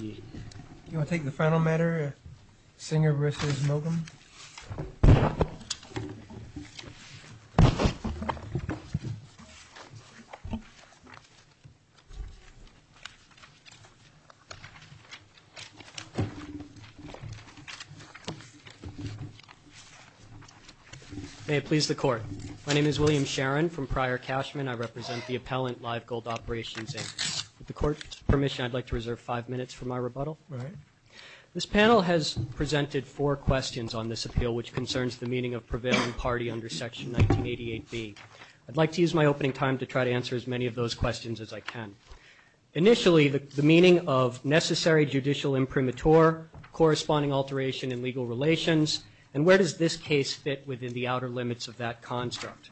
You want to take the final matter, Singer v. Milgram? May it please the Court. My name is William Sharon from Prior Cashman. I represent the appellant, Live Gold Operations Inc. With the Court's permission, I'd like to reserve five minutes for my rebuttal. This panel has presented four questions on this appeal, which concerns the meaning of prevailing party under Section 1988b. I'd like to use my opening time to try to answer as many of those questions as I can. Initially, the meaning of necessary judicial imprimatur, corresponding alteration in legal relations, and where does this case fit within the outer limits of that construct?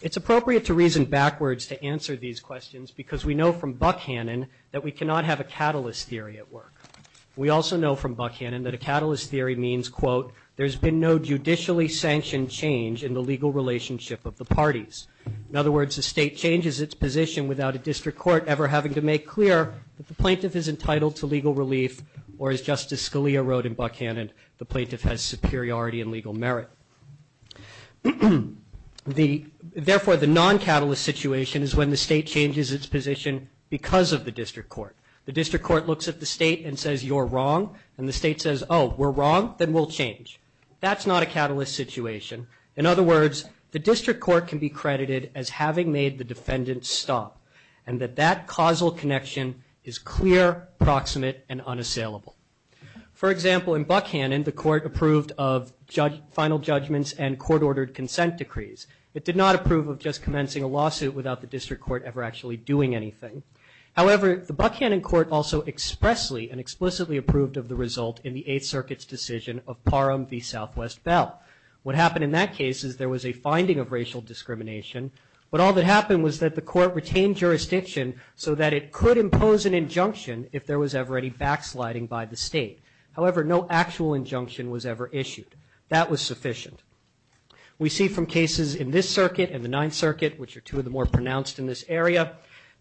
It's appropriate to reason backwards to answer these questions, because we know from Buckhannon that we cannot have a catalyst theory at work. We also know from Buckhannon that a catalyst theory means, quote, there's been no judicially sanctioned change in the legal relationship of the parties. In other words, the State changes its position without a district court ever having to make clear that the plaintiff is entitled to legal relief, or, as Justice Scalia wrote in Buckhannon, the plaintiff has superiority in legal merit. Therefore, the non-catalyst situation is when the State changes its position because of the district court. The district court looks at the State and says, you're wrong. And the State says, oh, we're wrong? Then we'll change. That's not a catalyst situation. In other words, the district court can be credited as having made the defendant stop, and that that causal connection is clear, proximate, and unassailable. For example, in Buckhannon, the court approved of final judgments and court-ordered consent decrees. It did not approve of just commencing a lawsuit without the district court ever actually doing anything. However, the Buckhannon court also expressly and explicitly approved of the result in the Eighth Circuit's decision of Parham v. Southwest Bell. What happened in that case is there was a finding of racial discrimination, but all that happened was that the court retained jurisdiction so that it could impose an injunction if there was ever any backsliding by the State. However, no actual injunction was ever issued. That was sufficient. We see from cases in this circuit and the Ninth Circuit, which are two of the more pronounced in this area,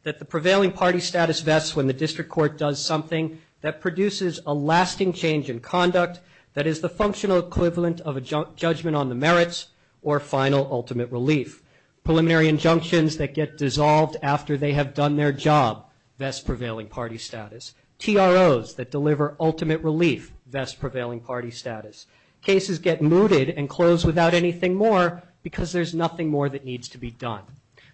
that the prevailing party status vests when the district court does something that produces a lasting change in conduct that is the functional equivalent of a judgment on the merits or final ultimate relief. Preliminary injunctions that get dissolved after they have done their job vest prevailing party status. TROs that deliver ultimate relief vest prevailing party status. Cases get mooted and closed without anything more because there's nothing more that needs to be done.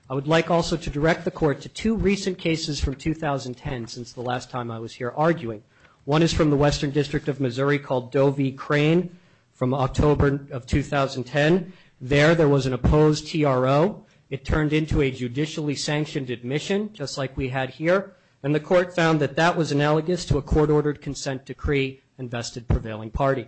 I would like also to direct the court to two recent cases from 2010, since the last time I was here arguing. One is from the Western District of Missouri called Doe v. Crane from October of 2010. There, there was an opposed TRO. It turned into a judicially sanctioned admission, just like we had here, and the court found that that was analogous to a court-ordered consent decree and vested prevailing party.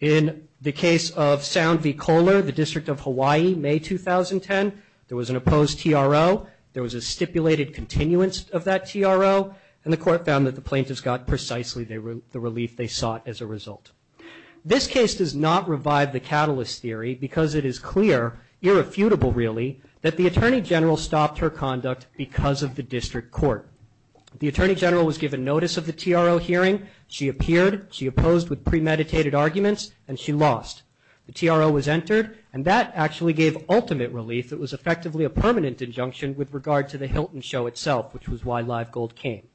In the case of Sound v. Kohler, the District of Hawaii, May 2010, there was an opposed TRO. There was a stipulated continuance of that TRO, and the court found that the plaintiffs got precisely the relief they sought as a result. This case does not revive the catalyst theory because it is clear, irrefutable really, that the Attorney General stopped her conduct because of the district court. The Attorney General was given notice of the TRO hearing. She appeared, she opposed with premeditated arguments, and she lost. The TRO was entered, and that actually gave ultimate relief. It was effectively a permanent injunction with regard to the Hilton show itself, which was why Live Gold came.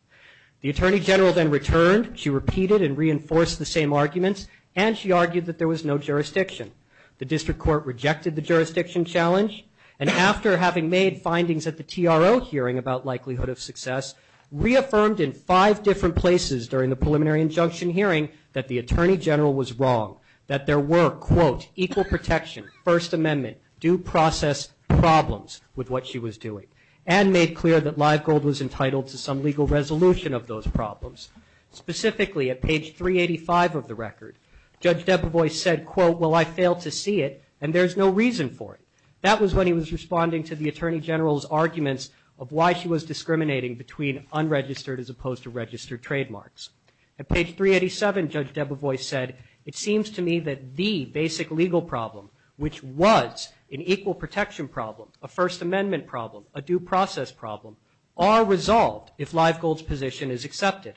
The Attorney General then returned. She repeated and reinforced the same arguments, and she argued that there was no jurisdiction. The district court rejected the jurisdiction challenge, and after having made findings at the TRO hearing about likelihood of success, reaffirmed in five different places during the preliminary injunction hearing that the Attorney General was wrong, that there were, quote, equal protection, First Amendment, due process problems with what she was doing, and made clear that Live Gold was entitled to some legal resolution of those problems. Specifically, at page 385 of the record, Judge Debevoise said, quote, well, I failed to see it, and there's no reason for it. That was when he was responding to the Attorney General's arguments of why she was discriminating between unregistered as opposed to registered trademarks. At page 387, Judge Debevoise said, it seems to me that the basic legal problem, which was an equal protection problem, a First Amendment problem, a due process problem, are resolved if Live Gold's position is accepted.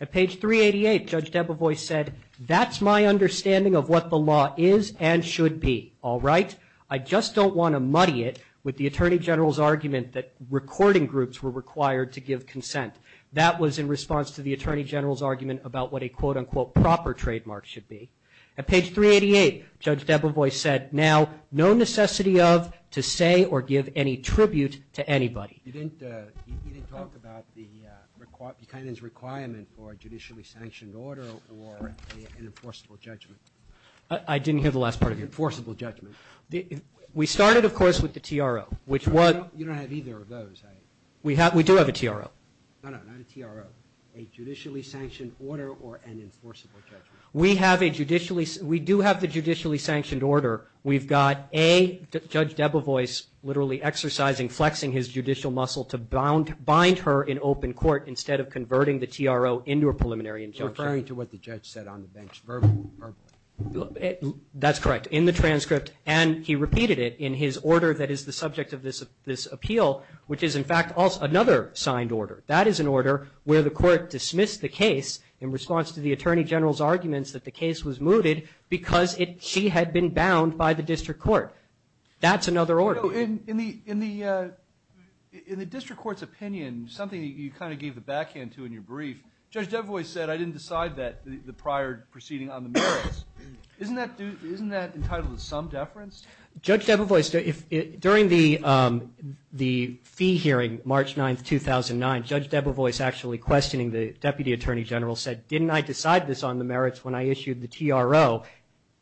At page 388, Judge Debevoise said, that's my understanding of what the law is and should be, all right? I just don't want to muddy it with the Attorney General's argument that recording groups were required to give consent. That was in response to the Attorney General's argument about what a, quote, unquote, proper trademark should be. At page 388, Judge Debevoise said, now, no necessity of, to say, or give any tribute to anybody. You didn't talk about Buchanan's requirement for a judicially sanctioned order or an enforceable judgment. I didn't hear the last part of it. We started, of course, with the TRO. We do have a TRO. We do have the judicially sanctioned order. We've got a, Judge Debevoise literally exercising, flexing his judicial muscle to bind her in open court instead of converting the TRO into a preliminary injunction. Referring to what the judge said on the bench verbally. That's correct. In the transcript, and he repeated it in his order that is the subject of this appeal, which is, in fact, another signed order. That is an order where the court dismissed the case in response to the Attorney General's arguments that the case was mooted because she had been bound by the district court. That's another order. In the district court's opinion, something you kind of gave the backhand to in your brief, Judge Debevoise said, I didn't decide the prior proceeding on the merits. Isn't that entitled to some deference? During the fee hearing, March 9, 2009, Judge Debevoise actually questioning the Deputy Attorney General said, didn't I decide this on the merits when I issued the TRO?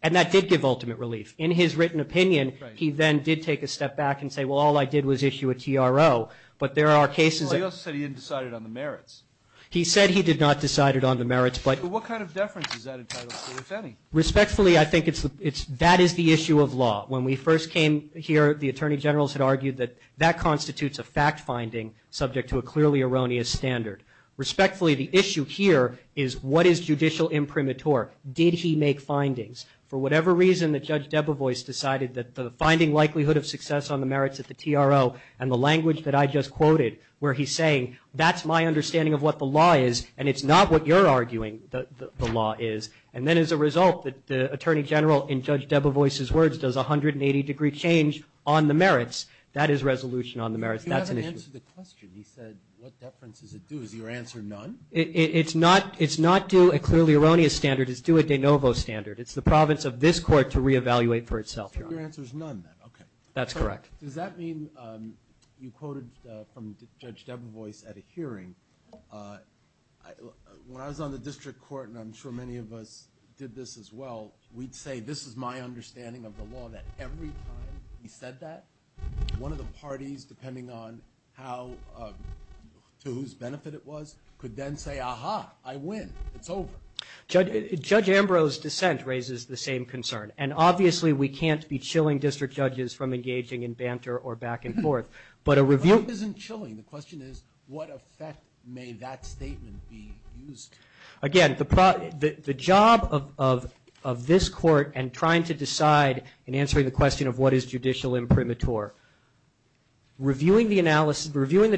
And that did give ultimate relief. In his written opinion, he then did take a step back and say, well, all I did was issue a TRO. He said he did not decide it on the merits. Respectfully, I think that is the issue of law. When we first came here, the Attorney Generals had argued that that constitutes a fact finding subject to a clearly erroneous standard. Respectfully, the issue here is what is judicial imprimatur? Did he make findings? For whatever reason that Judge Debevoise decided that the finding likelihood of success on the merits at the TRO and the language that I just quoted where he's saying, that's my understanding of what the law is and it's not what you're arguing the law is. And then as a result, the Attorney General, in Judge Debevoise's words, does 180 degree change on the merits. That is resolution on the merits. That's an issue. He hasn't answered the question. He said, what deference does it do? Is your answer none? It's not due a clearly erroneous standard. It's due a de novo standard. It's the province of this court to re-evaluate for itself. So your answer is none, then. Okay. Does that mean, you quoted from Judge Debevoise at a hearing, when I was on the district court, and I'm sure many of us did this as well, we'd say, this is my understanding of the law, that every time he said that, one of the parties, depending on how, to whose benefit it was, could then say, aha, I win. It's over. Judge Ambrose's dissent raises the same concern. And obviously we can't be chilling district judges from engaging in banter or back and forth, but a review... But it isn't chilling. The question is, what effect may that statement be used to? Again, the job of this court in trying to decide, in answering the question of what is judicial imprimatur, reviewing the analysis, reviewing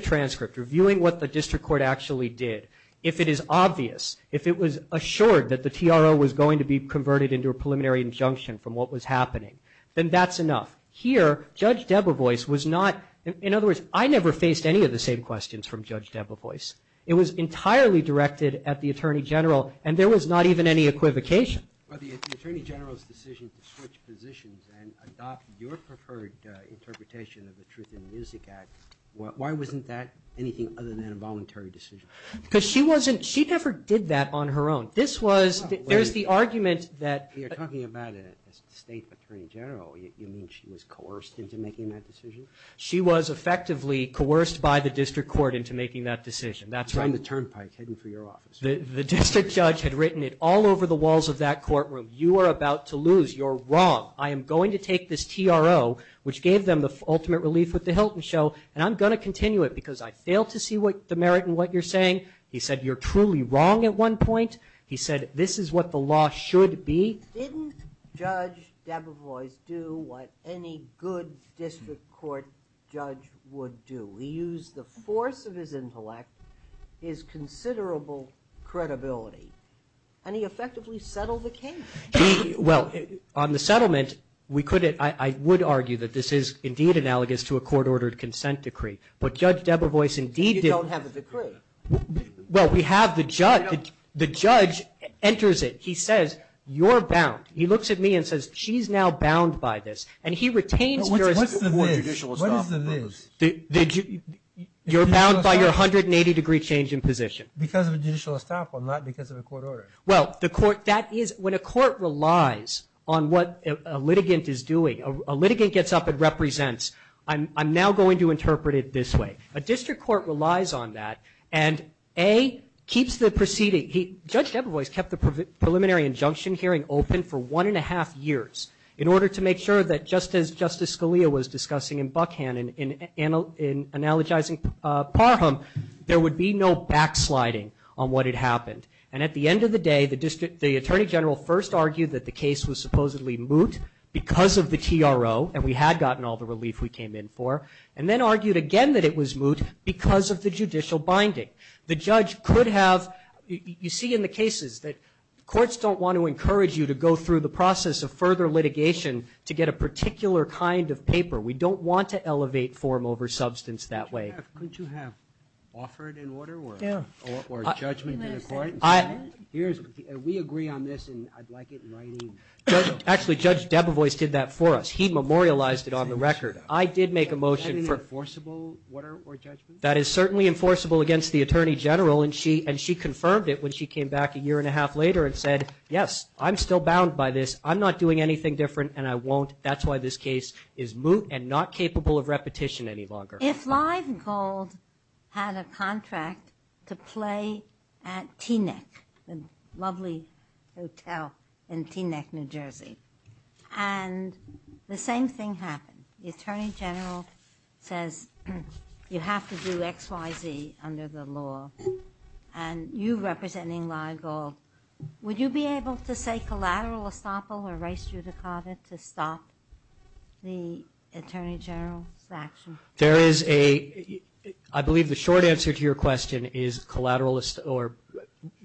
what the district court actually did, if it is obvious, if it was assured that the TRO was going to be converted into a preliminary injunction from what was happening, then that's enough. Here, Judge Debevoise was not... In other words, I never faced any of the same questions from Judge Debevoise. It was entirely directed at the Attorney General, and there was not even any equivocation. Well, the Attorney General's decision to switch positions and adopt your preferred interpretation of the Truth in Music Act, why wasn't that anything other than a voluntary decision? Because she never did that on her own. This was... There's the argument that... You're talking about a state attorney general. You mean she was coerced into making that decision? She was effectively coerced by the district court into making that decision. That's why I'm the turnpike heading for your office. The district judge had written it all over the walls of that courtroom. You are about to lose. You're wrong. I am going to take this TRO, which gave them the ultimate relief with the Hilton show, and I'm going to continue it because I fail to see the merit in what you're saying. He said, you're truly wrong at one point. He said, this is what the law should be. Didn't Judge Debevoise do what any good district court judge would do? He used the force of his intellect, his considerable credibility, and he effectively settled the case. Well, on the settlement, I would argue that this is indeed analogous to a court-ordered consent decree, but Judge Debevoise indeed did... You don't have a decree. Well, we have the judge. The judge enters it. He says, you're bound. He looks at me and says, she's now bound by this. You're bound by your 180-degree change in position. When a court relies on what a litigant is doing, a litigant gets up and represents. I'm now going to interpret it this way. A district court relies on that, and A, keeps the proceeding... Judge Debevoise kept the preliminary injunction hearing open for one-and-a-half years in order to make sure that just as Justice Scalia was discussing in Buckhannon in analogizing Parham, there would be no backsliding on what had happened. And at the end of the day, the attorney general first argued that the case was supposedly moot because of the TRO, and we had gotten all the relief we came in for, and then argued again that it was moot because of the judicial binding. You see in the cases that courts don't want to encourage you to go through the process of further litigation to get a particular kind of paper. We don't want to elevate form over substance that way. Couldn't you have offered an order or a judgment to the court? We agree on this, and I'd like it in writing. Actually, Judge Debevoise did that for us. He memorialized it on the record. That is certainly enforceable against the attorney general, and she confirmed it when she came back a year-and-a-half later and said, yes, I'm still bound by this. I'm not doing anything different, and I won't. That's why this case is moot and not capable of repetition any longer. If Live Gold had a contract to play at Teaneck, a lovely hotel in Teaneck, New Jersey, and the same thing happened. The attorney general says, you have to do X, Y, Z under the law, and you representing Live Gold, would you be able to say collateral estoppel or res judicata to stop the attorney general's action? I believe the short answer to your question is collateral estoppel or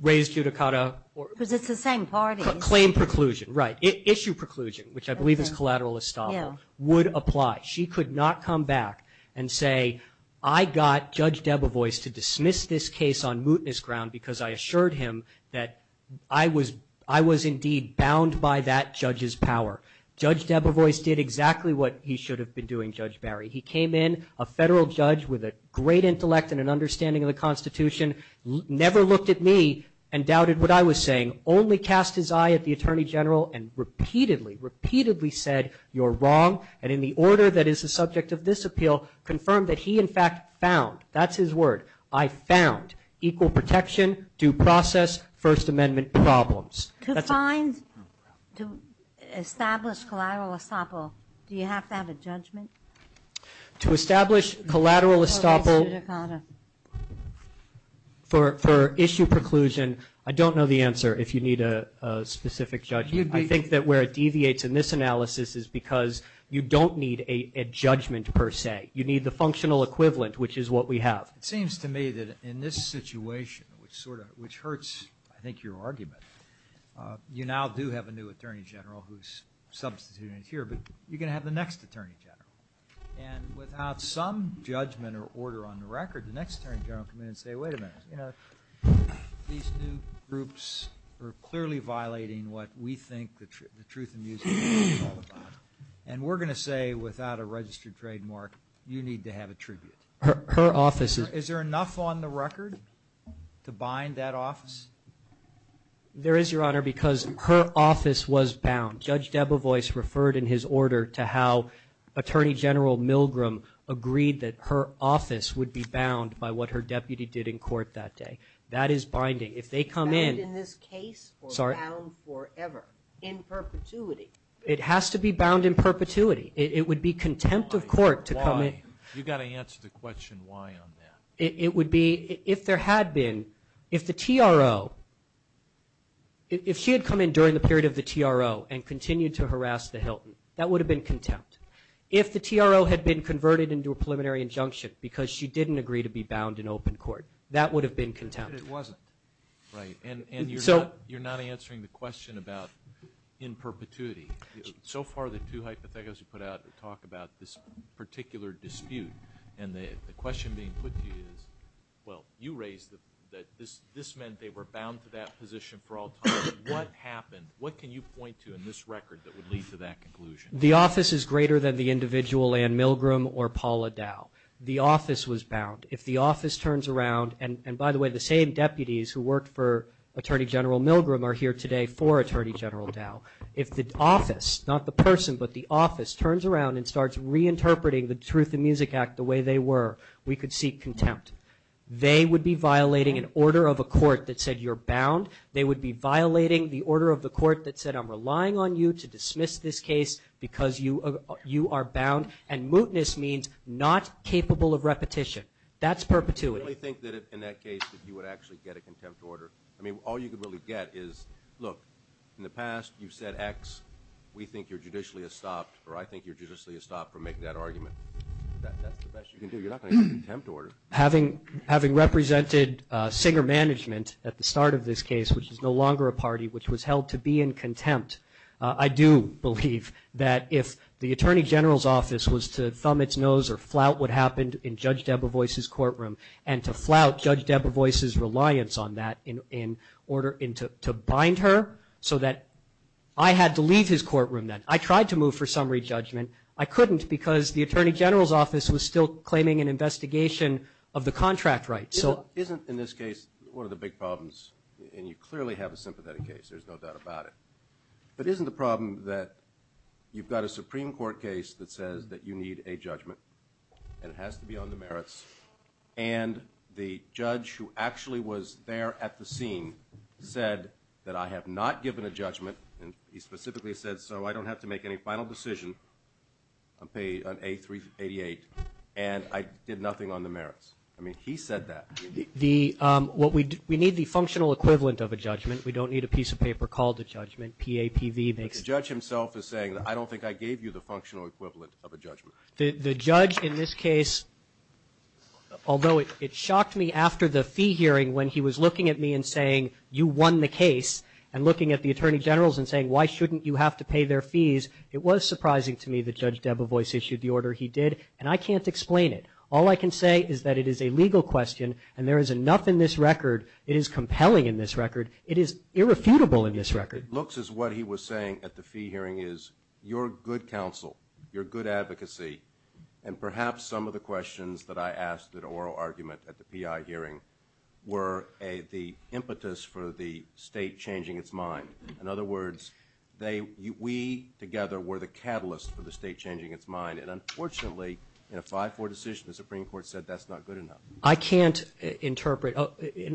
res judicata. Because it's the same parties. Right. Issue preclusion, which I believe is collateral estoppel, would apply. She could not come back and say, I got Judge Debevoise to dismiss this case on mootness ground because I assured him that I was indeed bound by that judge's power. Judge Debevoise did exactly what he should have been doing, Judge Barry. He came in, a federal judge with a great intellect and an understanding of the Constitution, never looked at me and doubted what I was saying, only cast his eye at the attorney general and repeatedly, repeatedly said, you're wrong, and in the order that is the subject of this appeal, confirmed that he in fact found, that's his word, I found equal protection to process First Amendment problems. To establish collateral estoppel, do you have to have a judgment? To establish collateral estoppel for issue preclusion, I don't know the answer if you need a specific judgment. I think that where it deviates in this analysis is because you don't need a judgment per se. You need the functional equivalent, which is what we have. It seems to me that in this situation, which hurts, I think, your argument, you now do have a new attorney general who's substituted in here, but you're going to have the next attorney general, and without some judgment or order on the record, the next attorney general will come in and say, wait a minute, you know, these new groups are clearly violating what we think the truth and music of the law is all about, and we're going to say without a registered trademark, you need to have a tribute. Is there enough on the record to bind that office? There is, Your Honor, because her office was bound. Judge Debevoise referred in his order to how Attorney General Milgram agreed that her office would be bound by what her deputy did in court that day. That is binding. Is that in this case or bound forever, in perpetuity? It has to be bound in perpetuity. It would be contempt of court to come in. You've got to answer the question why on that. It would be if there had been, if the TRO, if she had come in during the period of the TRO and continued to harass the Hilton, that would have been contempt. If the TRO had been converted into a preliminary injunction because she didn't agree to be bound in open court, that would have been contempt. But it wasn't. Right. And you're not answering the question about in perpetuity. So far the two hypotheticals you put out talk about this particular dispute, and the question being put to you is, well, you raised that this meant they were bound to that position for all time. What happened? What can you point to in this record that would lead to that conclusion? The office is greater than the individual Ann Milgram or Paula Dow. The office was bound. If the office turns around, and by the way, the same deputies who worked for Attorney General Milgram are here today for Attorney General Dow. If the office, not the person, but the office turns around and starts reinterpreting the Truth in Music Act the way they were, we could seek contempt. They would be violating an order of a court that said you're bound. They would be violating the order of the court that said I'm relying on you to dismiss this case because you are bound. And mootness means not capable of repetition. That's perpetuity. You really think that in that case that you would actually get a contempt order? I mean, all you could really get is, look, in the past you've said X, we think you're judicially estopped, or I think you're judicially estopped from making that argument. That's the best you can do. You're not going to get a contempt order. Having represented Singer Management at the start of this case, which is no longer a party which was held to be in contempt, I do believe that if the Attorney General's office was to thumb its nose or flout what happened in Judge Debevoise's courtroom and to flout Judge Debevoise's reliance on that in order to bind her so that I had to leave his courtroom then, I tried to move for summary judgment. I couldn't because the Attorney General's office was still claiming an investigation of the contract rights. Isn't, in this case, one of the big problems, and you clearly have a sympathetic case, there's no doubt about it, but isn't the problem that you've got a Supreme Court case that says that you need a judgment and it has to be on the merits, and the judge who actually was there at the scene said that I have not given a judgment, and he specifically said so, I don't have to make any final decision on A388, and I did nothing on the merits. I mean, he said that. We need the functional equivalent of a judgment. We don't need a piece of paper called a judgment. PAPV makes sense. But the judge himself is saying, I don't think I gave you the functional equivalent of a judgment. The judge in this case, although it shocked me after the fee hearing when he was looking at me and saying, you won the case, and looking at the Attorney General's and saying, why shouldn't you have to pay their fees, it was surprising to me that Judge Debevoise issued the order he did, and I can't explain it. All I can say is that it is a legal question, and there is enough in this record, it is compelling in this record, it is irrefutable in this record. It looks as what he was saying at the fee hearing is your good counsel, your good advocacy, and perhaps some of the questions that I asked at oral argument at the PI hearing were the impetus for the state changing its mind. In other words, we together were the catalyst for the state changing its mind, and unfortunately in a 5-4 decision the Supreme Court said that's not good enough. I can't interpret,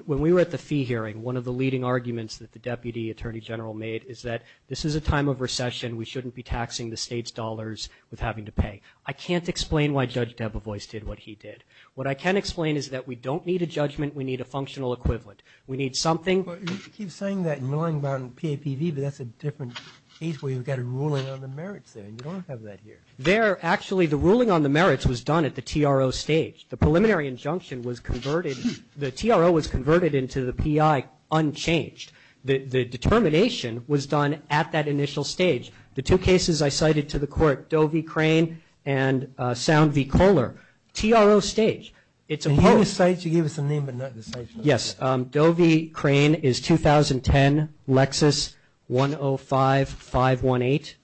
when we were at the fee hearing, one of the leading arguments that the Deputy Attorney General made is that this is a time of recession, we shouldn't be taxing the state's dollars with having to pay. I can't explain why Judge Debevoise did what he did. What I can explain is that we don't need a judgment, we need a functional equivalent. We need something. You keep saying that and lying about PAPV, but that's a different case where you've got a ruling on the merits there, and you don't have that here. There, actually, the ruling on the merits was done at the TRO stage. The preliminary injunction was converted, the TRO was converted into the PI unchanged. The determination was done at that initial stage. The two cases I cited to the court, Doe v. Crane and Sound v. Kohler, TRO stage. You gave us the name but not the stage. Yes. Doe v. Crane is 2010, Lexus 105-518,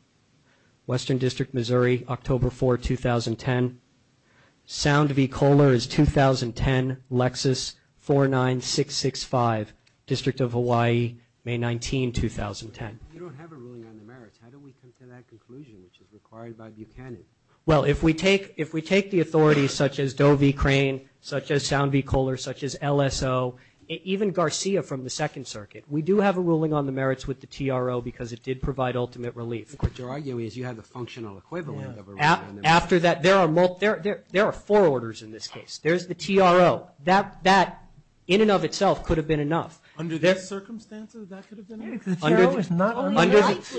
Western District, Missouri, October 4, 2010. Sound v. Kohler is 2010, Lexus 49665, District of Hawaii, May 19, 2010. You don't have a ruling on the merits. How do we come to that conclusion which is required by Buchanan? Well, if we take the authorities such as Doe v. Crane, such as Sound v. Kohler, such as LSO, even Garcia from the Second Circuit, we do have a ruling on the merits with the TRO because it did provide ultimate relief. What you're arguing is you have a functional equivalent of a ruling on the merits. After that, there are four orders in this case. There's the TRO. That, in and of itself, could have been enough. Under the circumstances, that could have been enough. The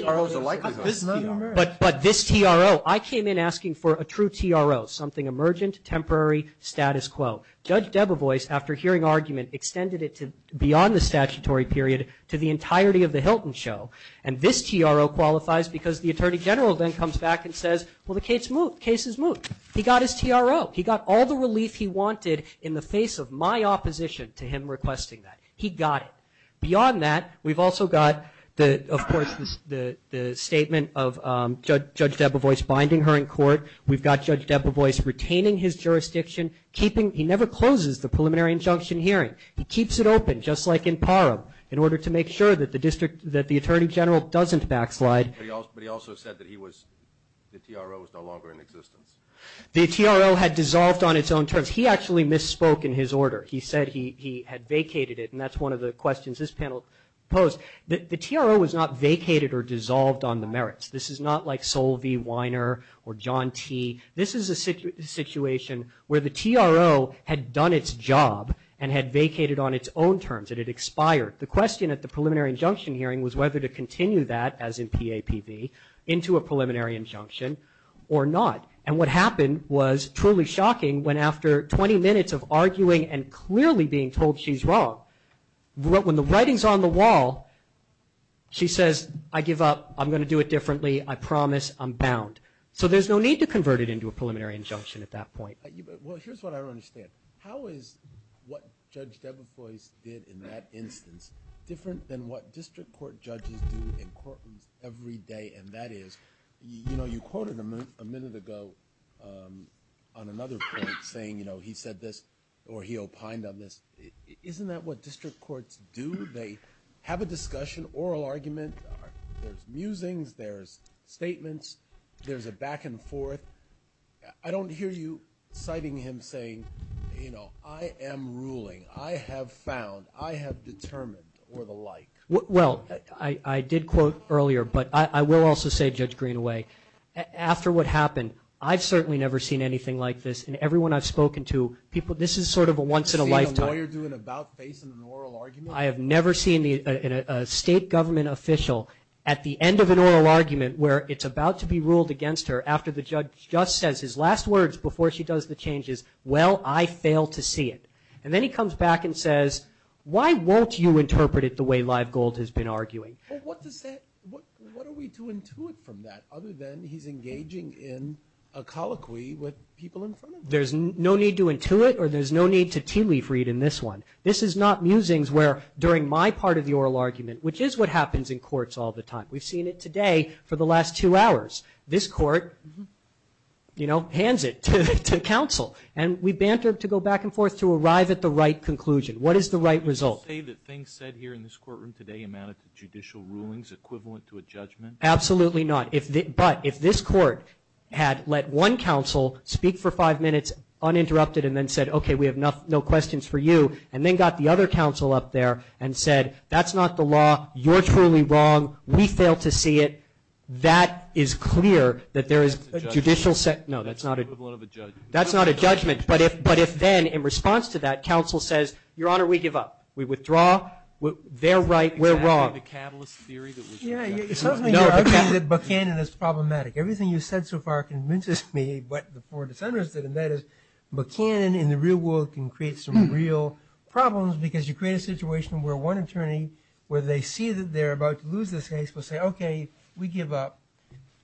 TRO is a likelihood. But this TRO, I came in asking for a true TRO, something emergent, temporary, status quo. Judge Debevoise, after hearing argument, extended it beyond the statutory period to the entirety of the Hilton show. And this TRO qualifies because the Attorney General then comes back and says, well, the case is moved. He got his TRO. He got all the relief he wanted in the face of my opposition to him requesting that. He got it. Beyond that, we've also got, of course, the statement of Judge Debevoise binding her in court. We've got Judge Debevoise retaining his jurisdiction. He never closes the preliminary injunction hearing. He keeps it open, just like in Parham, in order to make sure that the Attorney General doesn't backslide. But he also said that the TRO was no longer in existence. The TRO had dissolved on its own terms. He actually misspoke in his order. He said he had vacated it, and that's one of the questions this panel posed. The TRO was not vacated or dissolved on the merits. This is not like Sol V. Weiner or John T. This is a situation where the TRO had done its job and had vacated on its own terms. It had expired. The question at the preliminary injunction hearing was whether to continue that, as in PAPV, into a preliminary injunction or not. And what happened was truly shocking when after 20 minutes of arguing and clearly being told she's wrong, when the writing's on the wall, she says, I give up. I'm going to do it differently. I promise. I'm bound. So there's no need to convert it into a preliminary injunction at that point. Well, here's what I don't understand. How is what Judge Debefois did in that instance different than what district court judges do in courtrooms every day, and that is, you know, you quoted a minute ago on another point saying, you know, he said this or he opined on this. Isn't that what district courts do? They have a discussion, oral argument. There's musings. There's statements. There's a back and forth. I don't hear you citing him saying, you know, I am ruling, I have found, I have determined, or the like. Well, I did quote earlier, but I will also say, Judge Greenaway, after what happened, I've certainly never seen anything like this in everyone I've spoken to. This is sort of a once-in-a-lifetime. Have you seen a lawyer do an about-face in an oral argument? I have never seen a state government official at the end of an oral argument where it's about to be ruled against her after the judge just says his last words before she does the changes, well, I fail to see it. And then he comes back and says, why won't you interpret it the way Live Gold has been arguing? Well, what does that, what are we to intuit from that other than he's engaging in a colloquy with people in front of him? There's no need to intuit, or there's no need to tea leaf read in this one. This is not musings where during my part of the oral argument, which is what happens in courts all the time. We've seen it today for the last two hours. This court, you know, hands it to counsel. And we banter to go back and forth to arrive at the right conclusion. What is the right result? Would you say that things said here in this courtroom today amounted to judicial rulings equivalent to a judgment? Absolutely not. But if this court had let one counsel speak for five minutes uninterrupted and then said, okay, we have no questions for you, and then got the other counsel up there and said, that's not the law, you're truly wrong, we fail to see it. That is clear that there is a judicial set. No, that's not a judgment. That's not a judgment. But if then in response to that, counsel says, your Honor, we give up. We withdraw. They're right. We're wrong. Yeah, it sounds like you're arguing that Buchanan is problematic. Everything you've said so far convinces me what the four dissenters did, and that is Buchanan in the real world can create some real problems because you create a situation where one attorney, where they see that they're about to lose this case, will say, okay, we give up,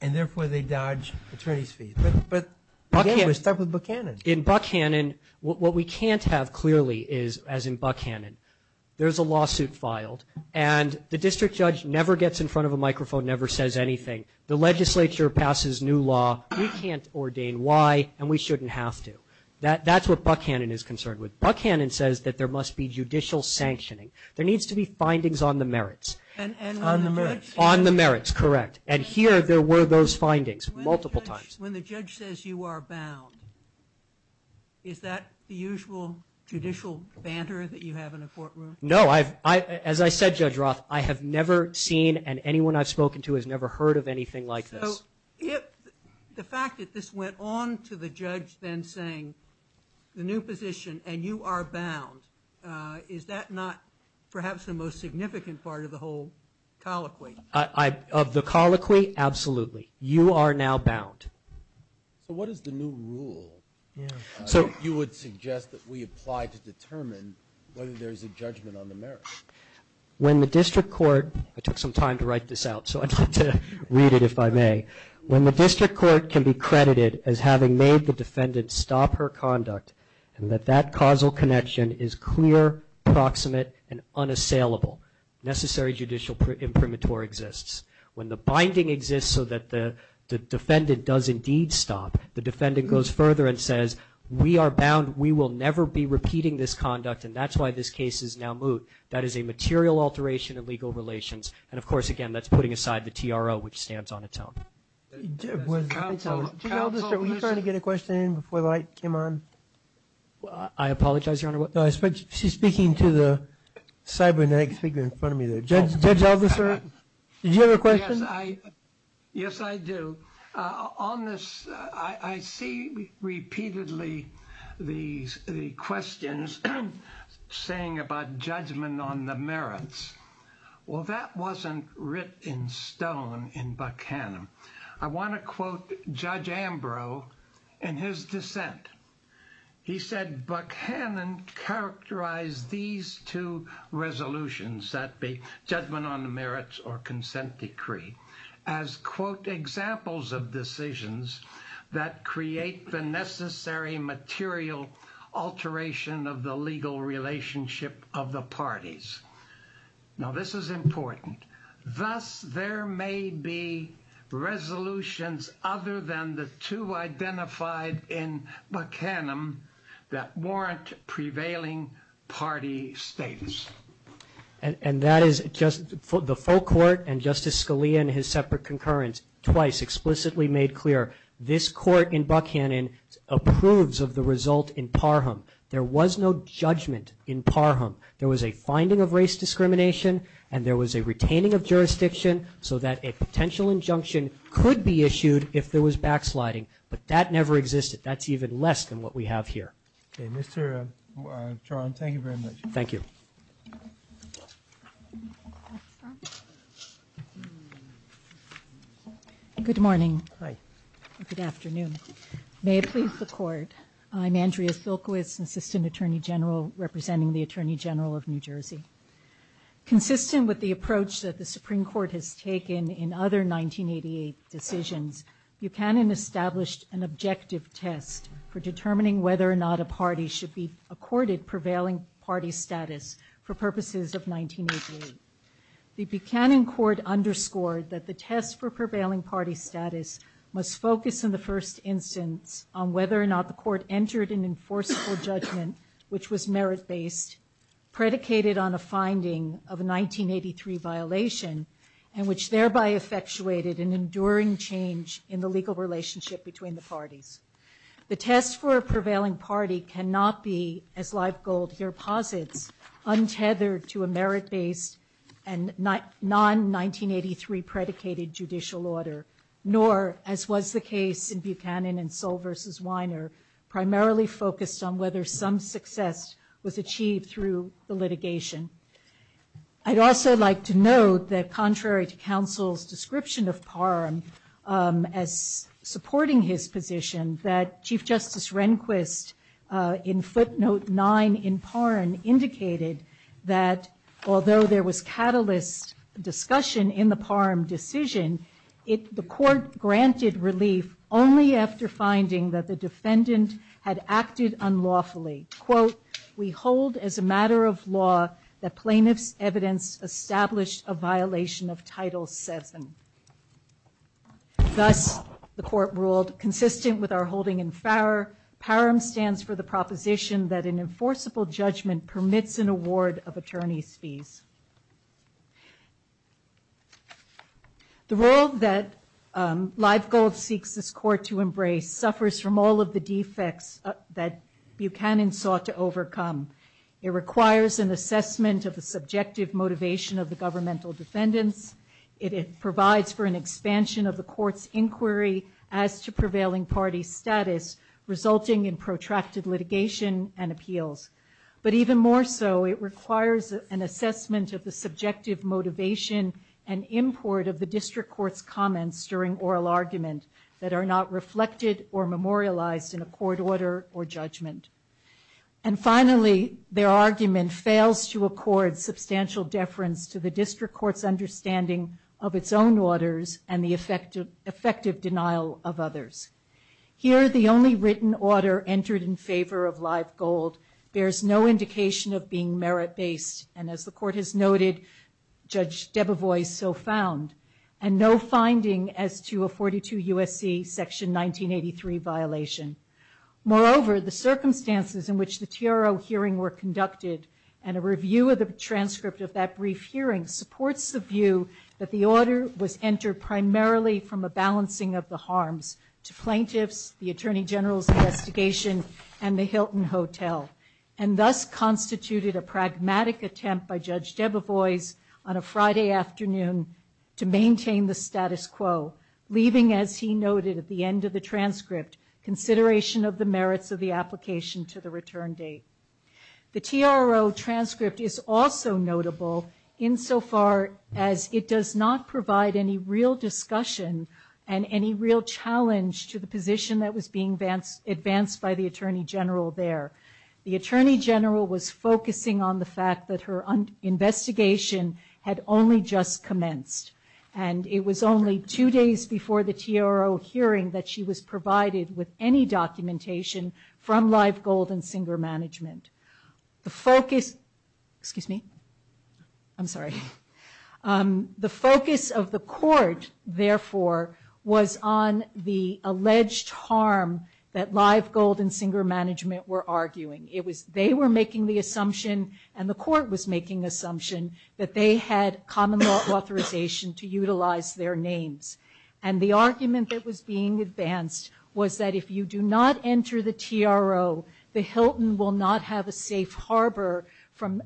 and therefore they dodge attorney's fees. But again, we're stuck with Buchanan. In Buchanan, what we can't have clearly is, as in Buchanan, there's a lawsuit filed, and the district judge never gets in front of a microphone, never says anything. The legislature passes new law. We can't ordain. Why? And we shouldn't have to. That's what Buchanan is concerned with. Buchanan says that there must be judicial sanctioning. There needs to be findings on the merits. On the merits. On the merits, correct. And here there were those findings multiple times. When the judge says you are bound, is that the usual judicial banter that you have in a courtroom? No. As I said, Judge Roth, I have never seen and anyone I've spoken to has never heard of anything like this. The fact that this went on to the judge then saying the new position and you are bound, is that not perhaps the most significant part of the whole colloquy? Of the colloquy? Absolutely. You are now bound. So what is the new rule that you would suggest that we apply to determine whether there's a judgment on the merits? When the district court, I took some time to write this out, so I'd like to read it if I may. When the district court can be credited as having made the defendant stop her conduct and that that causal connection is clear, proximate, and unassailable, necessary judicial imprimatur exists. When the binding exists so that the defendant does indeed stop, the defendant goes further and says we are bound. We will never be repeating this conduct and that's why this case is now moot. That is a material alteration in legal relations. And, of course, again, that's putting aside the TRO, which stands on its own. Counsel, listen. Judge Aldiser, were you trying to get a question in before the light came on? I apologize, Your Honor. She's speaking to the cybernetic figure in front of me there. Judge Aldiser, did you have a question? Yes, I do. On this, I see repeatedly the questions saying about judgment on the merits. Well, that wasn't written in stone in Buchanan. I want to quote Judge Ambrose in his dissent. He said Buchanan characterized these two resolutions, that be judgment on the merits or consent decree, as, quote, examples of decisions that create the necessary material alteration of the legal relationship of the parties. Now, this is important. Thus, there may be resolutions other than the two identified in Buchanan that warrant prevailing party status. And that is just the full court and Justice Scalia in his separate concurrence twice explicitly made clear this court in Buchanan approves of the result in Parham. There was no judgment in Parham. There was a finding of race discrimination, and there was a retaining of jurisdiction so that a potential injunction could be issued if there was backsliding. But that never existed. That's even less than what we have here. Okay. Mr. Charles, thank you very much. Thank you. Good morning. Hi. Good afternoon. May it please the court. I'm Andrea Silkowitz, Assistant Attorney General, representing the Attorney General of New Jersey. Consistent with the approach that the Supreme Court has taken in other 1988 decisions, Buchanan established an objective test for determining whether or not a party should be prevailing party status for purposes of 1988. The Buchanan court underscored that the test for prevailing party status must focus, in the first instance, on whether or not the court entered an enforceable judgment, which was merit-based, predicated on a finding of a 1983 violation, and which thereby effectuated an enduring change in the legal relationship between the parties. The test for a prevailing party cannot be, as Live Gold here posits, untethered to a merit-based and non-1983 predicated judicial order, nor, as was the case in Buchanan and Soll v. Weiner, primarily focused on whether some success was achieved through the litigation. I'd also like to note that contrary to counsel's description of Parham as supporting his position, that Chief Justice Rehnquist, in footnote 9 in Parham, indicated that, although there was catalyst discussion in the Parham decision, the court granted relief only after finding that the defendant had acted unlawfully. Quote, we hold as a matter of law that plaintiff's evidence established a violation of Title VII. Thus, the court ruled, consistent with our holding in Parham, stands for the proposition that an enforceable judgment permits an award of attorney's fees. The role that Live Gold seeks this court to embrace suffers from all of the defects that Buchanan sought to overcome. It requires an assessment of the subjective motivation of the governmental defendants. It provides for an expansion of the court's inquiry as to prevailing party status, resulting in protracted litigation and appeals. But even more so, it requires an assessment of the subjective motivation and import of the district court's comments during oral argument that are not reflected or memorialized in a court order or judgment. And finally, their argument fails to accord substantial deference to the district court's understanding of its own orders and the effective denial of others. Here, the only written order entered in favor of Live Gold bears no indication of being merit-based. And as the court has noted, Judge Debevois so found, and no finding as to a 42 USC section 1983 violation. Moreover, the circumstances in which the TRO hearing were conducted and a review of the transcript of that brief hearing supports the view that the order was entered primarily from a balancing of the harms to plaintiffs, the attorney general's investigation and the Hilton Hotel, and thus constituted a pragmatic attempt by Judge Debevois on a Friday afternoon to maintain the status quo, leaving as he noted at the end of the transcript consideration of the merits of the application to the return date. The TRO transcript is also notable insofar as it does not provide any real discussion and any real challenge to the position that was being advanced advanced by the attorney general there. The attorney general was focusing on the fact that her investigation had only just commenced. And it was only two days before the TRO hearing that she was provided with any documentation from Live Gold and Singer Management. The focus, excuse me, I'm sorry. The focus of the court therefore was on the alleged harm that Live Gold and Singer Management were arguing. It was, they were making the assumption and the court was making assumption that they had common law authorization to utilize their names. And the argument that was being advanced was that if you do not enter the TRO, the Hilton will not have a safe harbor from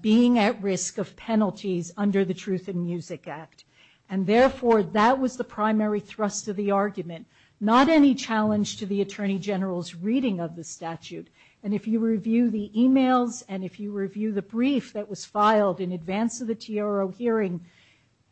being at risk of penalties under the Truth in Music Act. And therefore that was the primary thrust of the argument, not any challenge to the attorney general's reading of the statute. And if you review the emails and if you review the brief that was filed in the TRO hearing,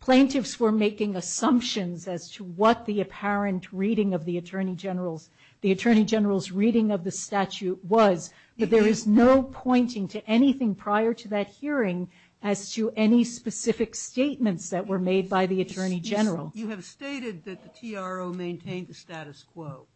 plaintiffs were making assumptions as to what the apparent reading of the attorney general's, the attorney general's reading of the statute was. But there is no pointing to anything prior to that hearing as to any specific statements that were made by the attorney general. You have stated that the TRO maintained the status quo.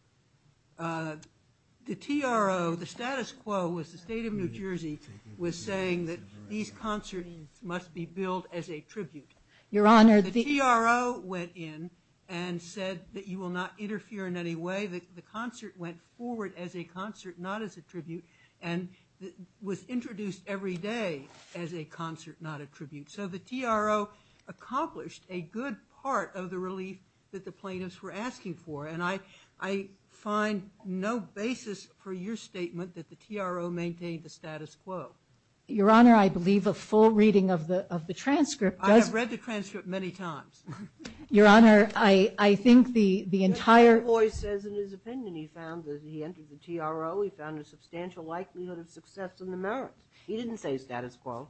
The TRO, the status quo was the state of New Jersey was saying that these concerts must be billed as a tribute. Your Honor, the TRO went in and said that you will not interfere in any way that the concert went forward as a concert, not as a tribute and was introduced every day as a concert, not a tribute. So the TRO accomplished a good part of the relief that the plaintiffs were asking for. And I, I find no basis for your statement that the TRO maintained the status quo. Your Honor. I believe a full reading of the, of the transcript does read the transcript many times. Your Honor. I, I think the, the entire voice says in his opinion, he found that he entered the TRO. He found a substantial likelihood of success in the merits. He didn't say status quo,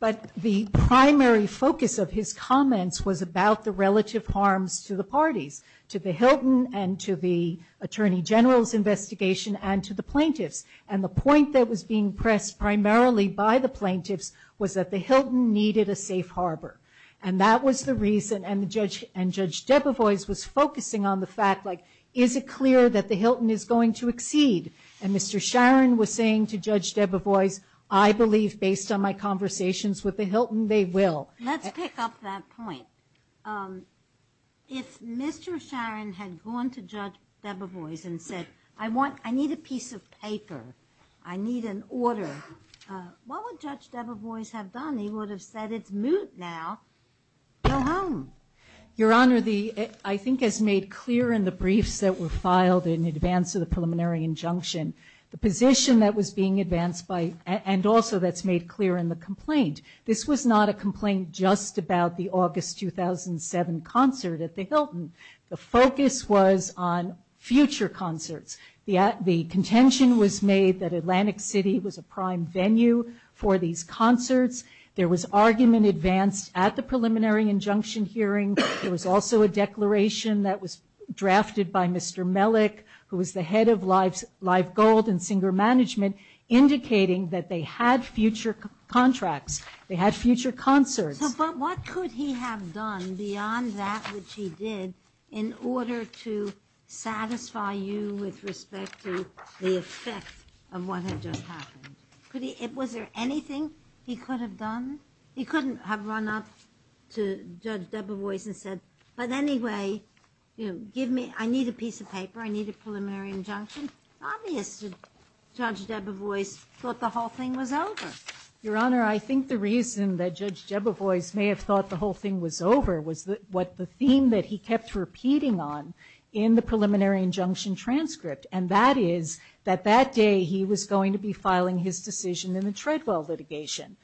but the primary focus of his comments was about the relative harms to the parties, to the Hilton and to the attorney general's investigation and to the plaintiffs. And the point that was being pressed primarily by the plaintiffs was that the Hilton needed a safe Harbor. And that was the reason. And the judge and judge Debevoise was focusing on the fact like, is it clear that the Hilton is going to exceed? And Mr. Sharon was saying to judge Debevoise, I believe based on my conversations with the Hilton, they will. Let's pick up that point. If Mr. Sharon had gone to judge Debevoise and said, I want, I need a piece of paper. I need an order. What would judge Debevoise have done? He would have said it's moot now. Go home. Your honor. The, I think as made clear in the briefs that were filed in advance of the preliminary injunction, the position that was being advanced by, and also that's made clear in the complaint. This was not a complaint just about the August, 2007 concert at the Hilton. The focus was on future concerts. The, the contention was made that Atlantic city was a prime venue for these concerts. There was argument advanced at the preliminary injunction hearing. There was also a declaration that was drafted by Mr. Mellick, who was the head of lives, live gold and singer management indicating that they had future contracts. They had future concerts. But what could he have done beyond that, which he did in order to satisfy you with respect to the effect of what had just happened? Could he, it was there anything he could have done? He couldn't have run up to judge Debevoise and said, but anyway, you know, give me, I need a piece of paper. I need a preliminary injunction. Obviously judge Debevoise thought the whole thing was over. Your honor. I think the reason that judge Debevoise may have thought the whole thing was over was what the theme that he kept repeating on in the preliminary injunction transcript. And that is that that day he was going to be filing his decision in the Treadwell litigation.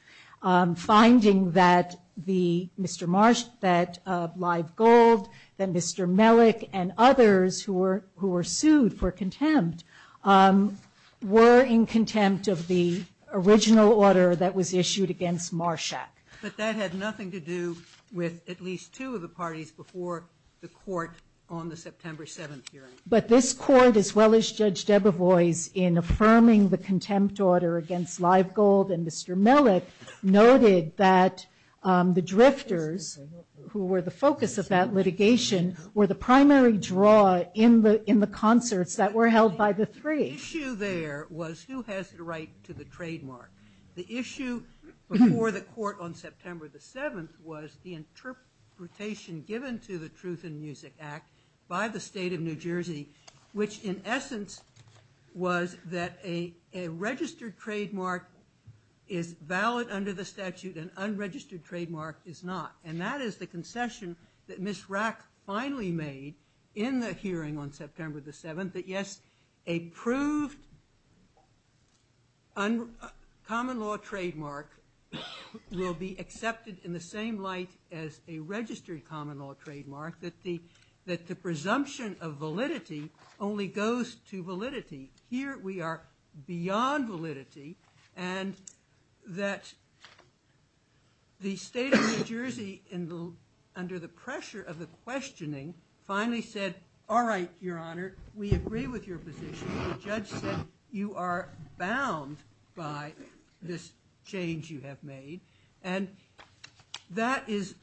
Finding that the Mr. Marsh, that live gold, then Mr. Mellick and others who were, who were sued for contempt were in contempt of the original order that was issued against Marshak. But that had nothing to do with at least two of the parties before the court on the September 7th hearing. But this court, as well as judge Debevoise in affirming the contempt order against live gold and Mr. Mellick noted that the drifters who were the focus of that litigation were the primary draw in the, in the concerts that were held by the three. The issue there was who has the right to the trademark. The issue before the court on September the 7th was the interpretation given to the truth and music act by the state of New Jersey, which in essence was that a, a registered trademark is valid under the statute and unregistered trademark is not. And that is the concession that Ms. Rack finally made in the hearing on September the 7th, that yes, a proved common law trademark will be accepted in the same light as a registered common law trademark, that the, that the presumption of validity only goes to validity. Here we are beyond validity and that the state of New Jersey in the, under the pressure of the questioning finally said, all right, your honor, we agree with your position. The judge said you are bound by this change you have made. And that is,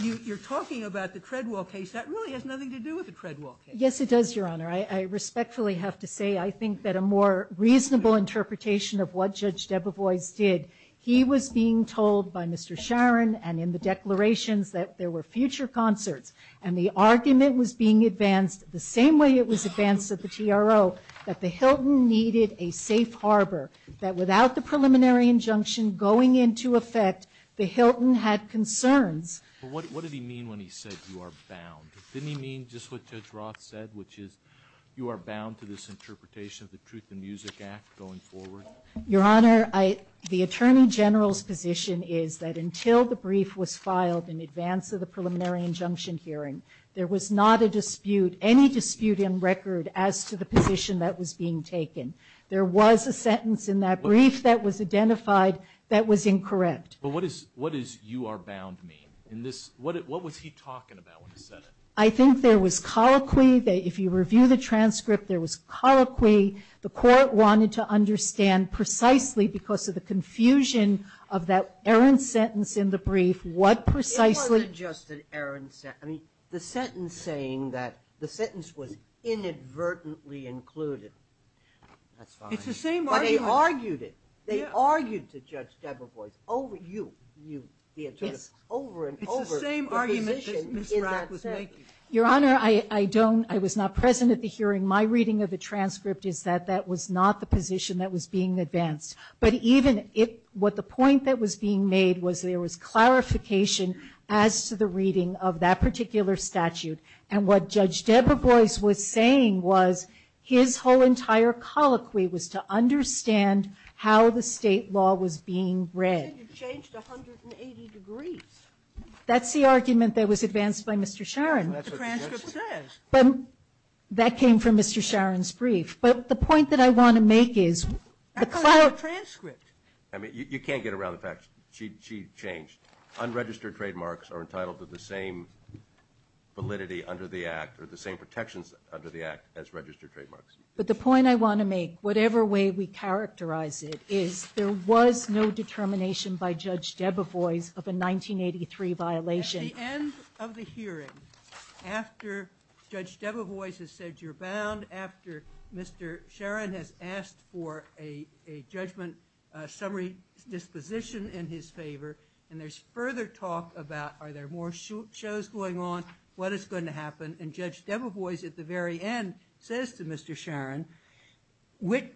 you're talking about the Treadwell case. That really has nothing to do with the Treadwell case. Yes, it does your honor. I respectfully have to say, I think that a more reasonable interpretation of what judge Debevoise did. Sharon and in the declarations that there were future concerts and the argument was being advanced the same way it was advanced at the TRO, that the Hilton needed a safe Harbor, that without the preliminary injunction going into effect, the Hilton had concerns. What did he mean when he said you are bound? Didn't he mean just what judge Roth said, which is you are bound to this interpretation of the truth and music act going forward. Your honor, I, the attorney general's position is that until the brief was filed in advance of the preliminary injunction hearing, there was not a dispute, any dispute in record as to the position that was being taken. There was a sentence in that brief that was identified that was incorrect. But what is, what is you are bound to me in this? What, what was he talking about when he said it? I think there was colloquy that if you review the transcript, there was colloquy. The court wanted to understand precisely because of the confusion of that Aaron sentence in the brief, what precisely. I mean, the sentence saying that the sentence was inadvertently included. That's fine. It's the same argument. But they argued it. They argued to judge Debra Boyce over you, you, the attorney general, over and over. It's the same argument that Ms. Rack was making. Your honor, I, I don't, I was not present at the hearing. My reading of the transcript is that that was not the position that was being advanced. But even if what the point that was being made was there was clarification as to the reading of that particular statute and what judge Debra Boyce was saying was his whole entire colloquy was to understand how the state law was being read. You changed 180 degrees. That's the argument that was advanced by Mr. Sharon. That's what the transcript says. That came from Mr. Sharon's brief. But the point that I want to make is. That's not a transcript. I mean, you can't get around the fact that she changed. Unregistered trademarks are entitled to the same. Validity under the act or the same protections under the act as registered trademarks. But the point I want to make, whatever way we characterize it is there was no determination by judge Debra voice of a 1983 violation of the hearing. After judge Debra voice has said, you're bound after Mr. Sharon has asked for a, a judgment summary disposition in his favor. And there's further talk about, are there more shows going on? What is going to happen? And judge Debra voice at the very end says to Mr. Sharon, which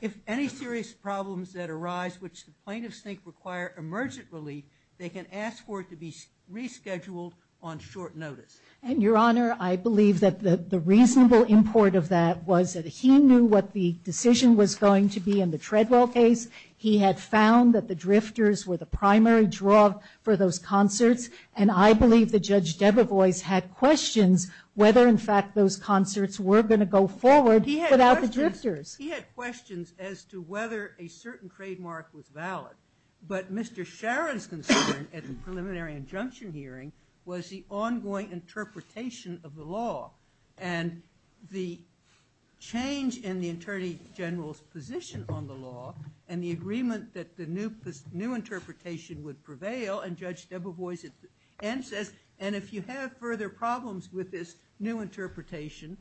if any serious problems that arise, which the plaintiffs think require emergent relief, they can ask for it to be rescheduled on short notice. And your honor, I believe that the reasonable import of that was that he knew what the decision was going to be in the treadmill case. He had found that the drifters were the primary draw for those concerts. And I believe the judge Debra voice had questions whether in fact those concerts were going to go forward without the drifters. He had questions as to whether a certain trademark was valid, but Mr. Sharon's concern at the preliminary injunction hearing was the ongoing interpretation of the law and the change in the attorney general's position on the law and the agreement that the new, this new interpretation would prevail and judge Debra voice and says, and if you have further problems with this new interpretation,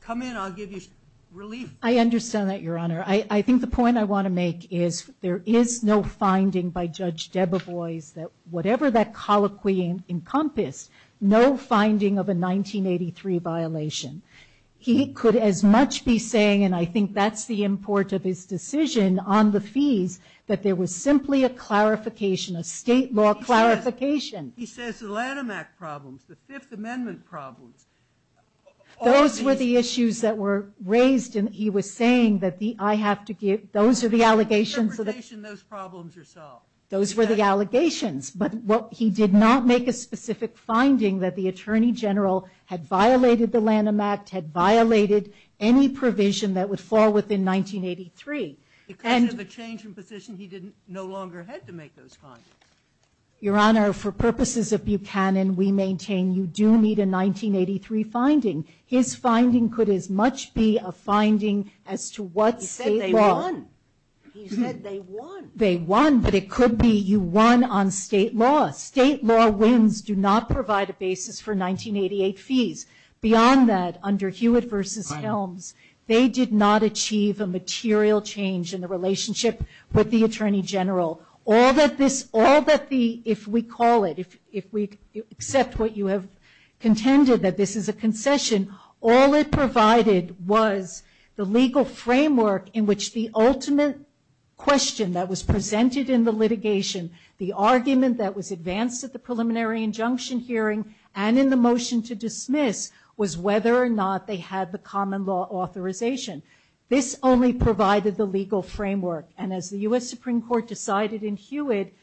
come in, I'll give you relief. I understand that your honor. I think the point I want to make is there is no finding by judge Debra voice that whatever that colloquy encompass, no finding of a 1983 violation, he could as much be saying, and I think that's the import of his decision on the fees, that there was simply a clarification, a state law clarification. He says the Lanham Act problems, the fifth amendment problems. Those were the issues that were raised and he was saying that the, I have to give, those are the allegations of those problems are solved. Those were the allegations, but what he did not make a specific finding that the attorney general had Lanham Act had violated any provision that would fall within 1983. And the change in position, he didn't no longer had to make those findings. Your honor, for purposes of Buchanan, we maintain you do need a 1983 finding. His finding could as much be a finding as to what state law. He said they won. They won, but it could be you won on state law. State law wins do not provide a basis for 1988 fees. Beyond that, under Hewitt versus Helms, they did not achieve a material change in the relationship with the attorney general. All that this, all that the, if we call it, if, if we accept what you have contended that this is a concession, all it provided was the legal framework in which the ultimate question that was presented in the litigation, the argument that was advanced at the preliminary injunction hearing and in the motion to dismiss was whether or not they had the common law authorization. This only provided the legal framework. And as the U.S. Supreme Court decided in Hewitt,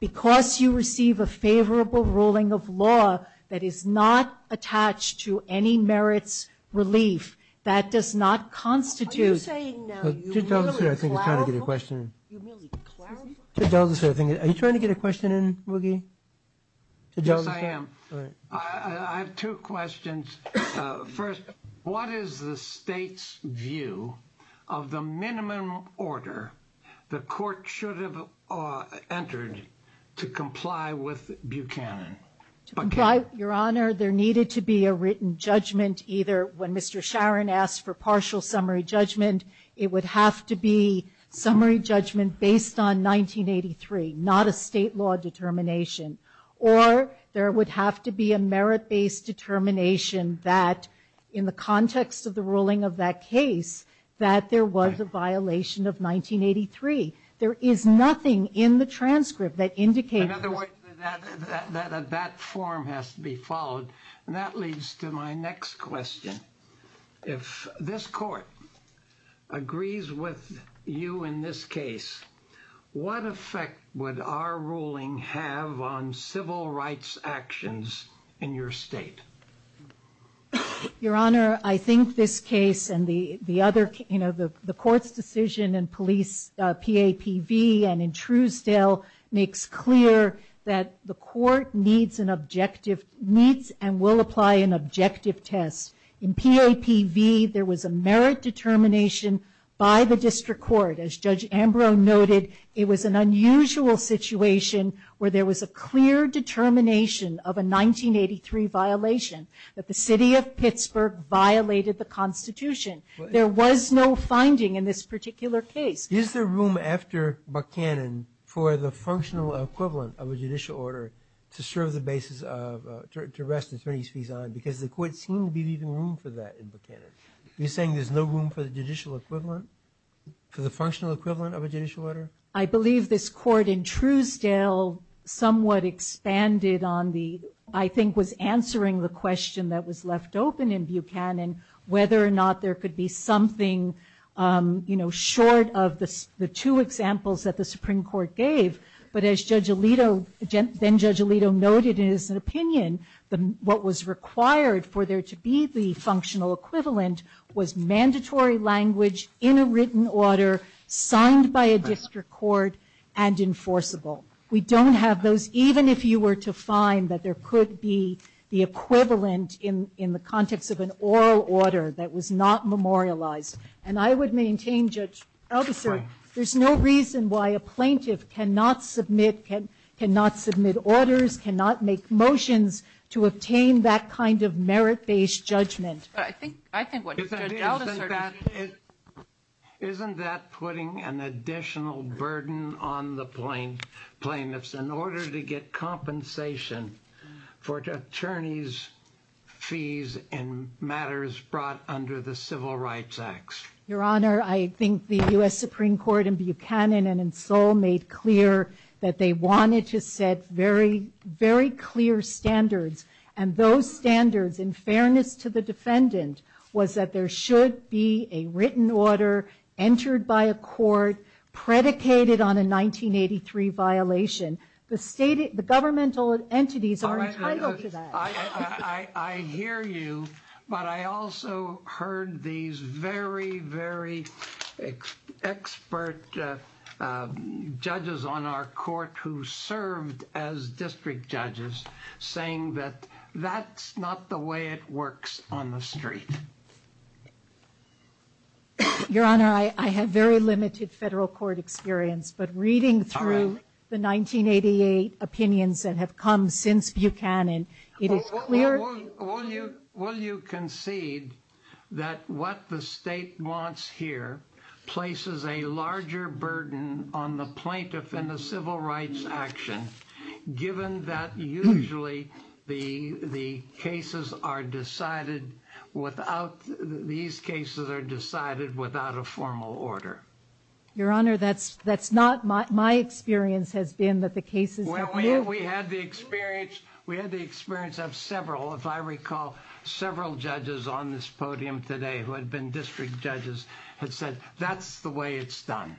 because you receive a favorable ruling of law that is not attached to any merits relief, that does not constitute. Are you trying to get a question? Are you trying to get a question in? Yes, I am. I have two questions. First, what is the state's view of the minimum order the court should have entered to comply with Buchanan? Your Honor, there needed to be a written judgment either when Mr. Sharon asked for partial summary judgment, it would have to be summary judgment based on 1983, not a state law determination, or there would have to be a merit based determination that in the context of the ruling of that case, that there was a violation of 1983. There is nothing in the transcript that indicates. In other words, that form has to be followed. And that leads to my next question. If this court agrees with you in this case, what effect would our ruling have on civil rights actions in your state? Your Honor, I think this case and the other, you know, the court's decision and police PAPV and in Truesdale makes clear that the court needs an objective, needs and will apply an objective test. In PAPV, there was a merit determination by the district court. And as Judge Ambrose noted, it was an unusual situation where there was a clear determination of a 1983 violation that the city of Pittsburgh violated the constitution. There was no finding in this particular case. Is there room after Buchanan for the functional equivalent of a judicial order to serve the basis of, to rest attorney's fees on because the court seemed to be leaving room for that in Buchanan. You're saying there's no room for the judicial equivalent? For the functional equivalent of a judicial order? I believe this court in Truesdale somewhat expanded on the, I think was answering the question that was left open in Buchanan, whether or not there could be something, you know, short of the two examples that the Supreme Court gave. But as Judge Alito, then Judge Alito noted in his opinion, what was required for there to be the functional equivalent was mandatory language in a written order, signed by a district court and enforceable. We don't have those, even if you were to find that there could be the equivalent in, in the context of an oral order that was not memorialized. And I would maintain Judge, there's no reason why a plaintiff cannot submit, can not submit orders, cannot make motions to obtain that kind of merit-based judgment. I think, isn't that putting an additional burden on the plaintiffs in order to get compensation for attorneys' fees in matters brought under the Civil Rights Acts? Your Honor, I think the U.S. Supreme Court in Buchanan and in Seoul made clear that they wanted to set very, very clear standards. And those standards, in fairness to the defendant, was that there should be a written order entered by a court predicated on a 1983 violation. The state, the governmental entities are entitled to that. I hear you, but I also heard these very, very expert judges on our court who served as district judges saying that that's not the way it works on the street. Your Honor, I have very limited federal court experience, but reading through the 1988 opinions that have come since Buchanan, it is clear... Will you concede that what the state wants here places a larger burden on the plaintiff in the civil rights action, given that usually the cases are decided without, these cases are decided without a formal order? Your Honor, that's not my experience has been that the cases... We had the experience of several, if I recall, several judges on this podium today who had been district judges had said that's the way it's done.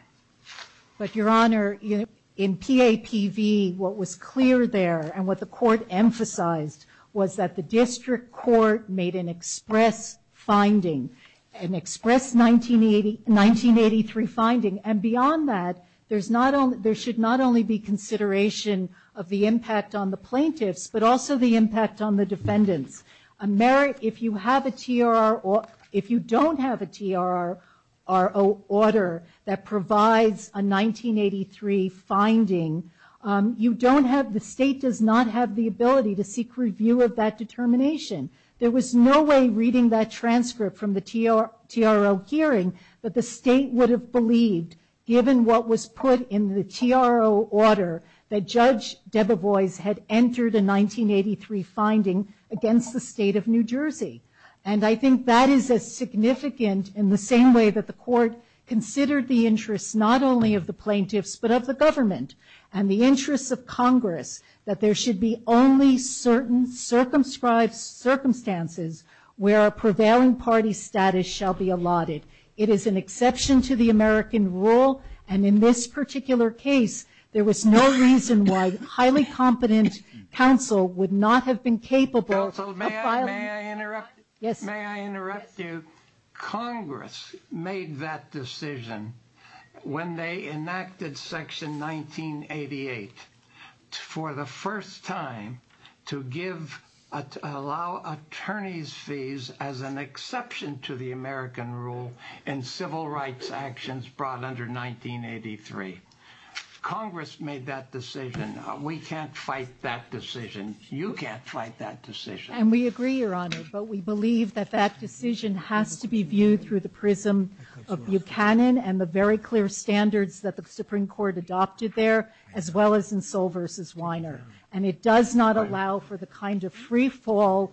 But, Your Honor, in PAPV, what was clear there and what the court emphasized was that the district court made an express finding, an express 1983 finding. And beyond that, there should not only be consideration of the impact on the plaintiffs, but also the impact on the defendants. If you have a TRR... If you don't have a TRR order that provides a 1983 finding, you don't have... The state does not have the ability to seek review of that determination. There was no way reading that transcript from the TRO hearing that the state would have believed given what was put in the TRO order that Judge Debevoise had entered a 1983 finding against the state of New Jersey. And I think that is as significant in the same way that the court considered the interests, not only of the plaintiffs, but of the government and the interests of Congress, that there should be only certain circumscribed circumstances where a prevailing party status shall be allotted. It is an exception to the American rule. And in this particular case, there was no reason why a highly competent counsel would not have been capable of filing... Counsel, may I interrupt? Yes. May I interrupt you? Congress made that decision when they enacted Section 1988 for the first time to allow attorneys' fees as an exception to the American rule in civil rights actions brought under 1983. Congress made that decision. We can't fight that decision. You can't fight that decision. And we agree, Your Honor, but we believe that that decision has to be viewed through the prism of Buchanan and the very clear standards that the Supreme Court adopted there, as well as in Soll v. Weiner. And it does not allow for the kind of freefall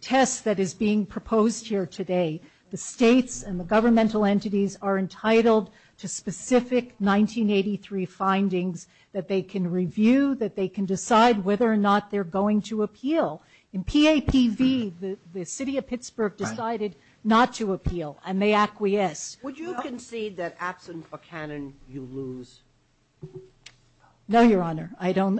test that is being proposed here today. The states and the governmental entities are entitled to specific 1983 findings that they can review, that they can decide whether or not they're going to appeal. In PAPV, the city of Pittsburgh decided not to appeal, and they acquiesced. Would you concede that absent Buchanan, you lose? No, Your Honor. I don't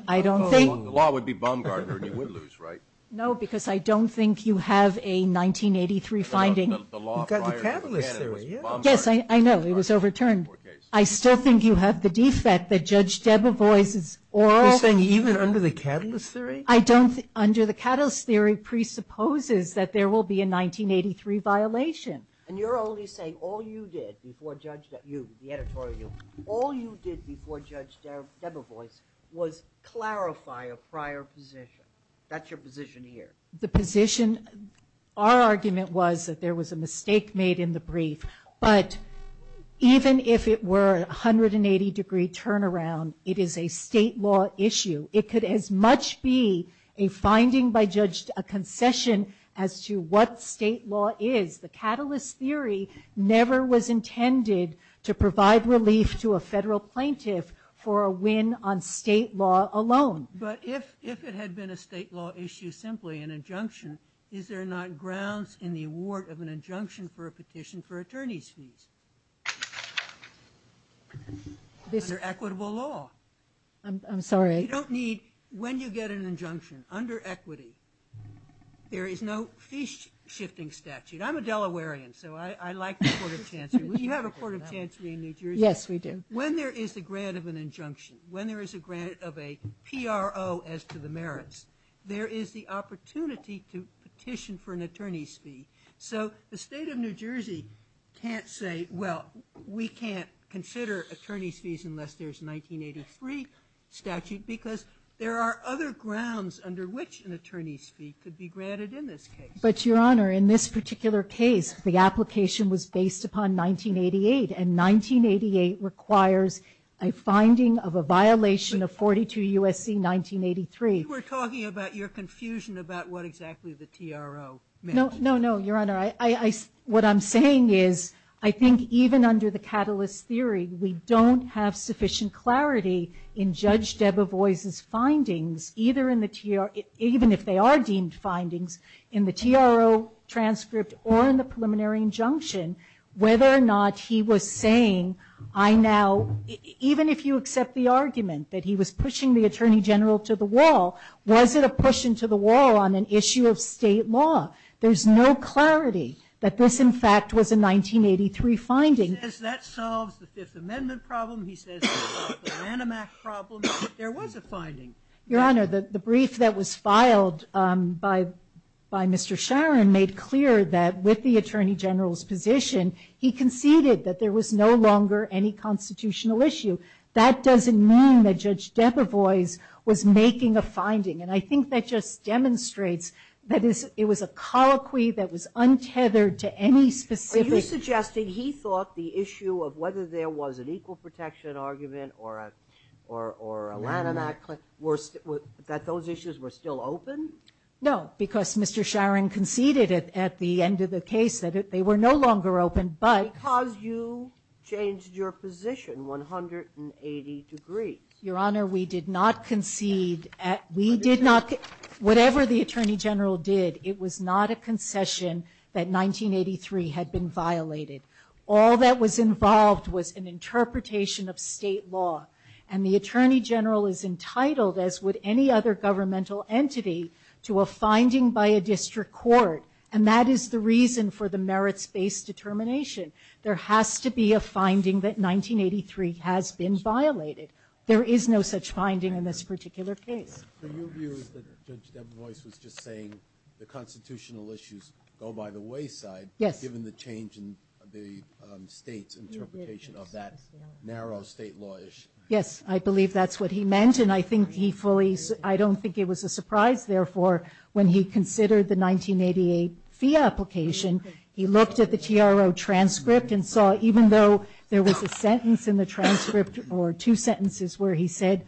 think. The law would be bomb-guarded and you would lose, right? No, because I don't think you have a 1983 finding. You've got the Catalyst Theory. Yes, I know. It was overturned. I still think you have the defect that Judge Debevoise's oral. You're saying even under the Catalyst Theory? I don't. Under the Catalyst Theory presupposes that there will be a 1983 violation. And you're only saying all you did before Judge Debevoise, was clarify a prior position. That's your position here. The position, our argument was that there was a mistake made in the brief. But even if it were 180 degree turnaround, it is a state law issue. It could as much be a finding by a concession as to what state law is. The Catalyst Theory never was intended to provide relief to a federal plaintiff for a win on state law alone. But if it had been a state law issue, simply an injunction, is there not grounds in the award of an injunction for a petition for attorney's fees? Under equitable law. I'm sorry. You don't need, when you get an injunction, under equity, there is no fee-shifting statute. I'm a Delawarean, so I like the Court of Chancery. We have a Court of Chancery in New Jersey. Yes, we do. When there is a grant of an injunction, when there is a grant of a PRO as to the merits, there is the opportunity to petition for an attorney's fee. So the State of New Jersey can't say, well, we can't consider attorney's fees unless there's a 1983 statute, because there are other grounds under which an attorney's fee could be granted in this case. But, Your Honor, in this particular case, the application was based upon 1988, and 1988 requires a finding of a violation of 42 U.S.C. 1983. You were talking about your confusion about what exactly the TRO meant. No, no, no, Your Honor. What I'm saying is I think even under the catalyst theory, we don't have sufficient clarity in Judge Debevoise's findings, even if they are deemed findings, in the TRO transcript or in the preliminary injunction, whether or not he was saying, I now, even if you accept the argument that he was pushing the Attorney General to the wall, was it a push into the wall on an issue of State law? There's no clarity that this, in fact, was a 1983 finding. He says that solves the Fifth Amendment problem. He says it solves the Manimac problem. There was a finding. Your Honor, the brief that was filed by Mr. Sharon made clear that with the addition, he conceded that there was no longer any constitutional issue. That doesn't mean that Judge Debevoise was making a finding, and I think that just demonstrates that it was a colloquy that was untethered to any specific. Are you suggesting he thought the issue of whether there was an equal protection argument or a Manimac, that those issues were still open? No, because Mr. Sharon conceded at the end of the case that they were no longer open. Because you changed your position 180 degrees. Your Honor, we did not concede. Whatever the Attorney General did, it was not a concession that 1983 had been violated. All that was involved was an interpretation of State law, and the Attorney General is entitled, as would any other governmental entity, to a finding by a district court, and that is the reason for the merits-based determination. There has to be a finding that 1983 has been violated. There is no such finding in this particular case. So your view is that Judge Debevoise was just saying the constitutional issues go by the wayside given the change in the State's interpretation of that narrow State law issue? Yes, I believe that's what he meant, and I don't think it was a surprise, therefore, when he considered the 1988 FIA application, he looked at the TRO transcript and saw, even though there was a sentence in the transcript or two sentences where he said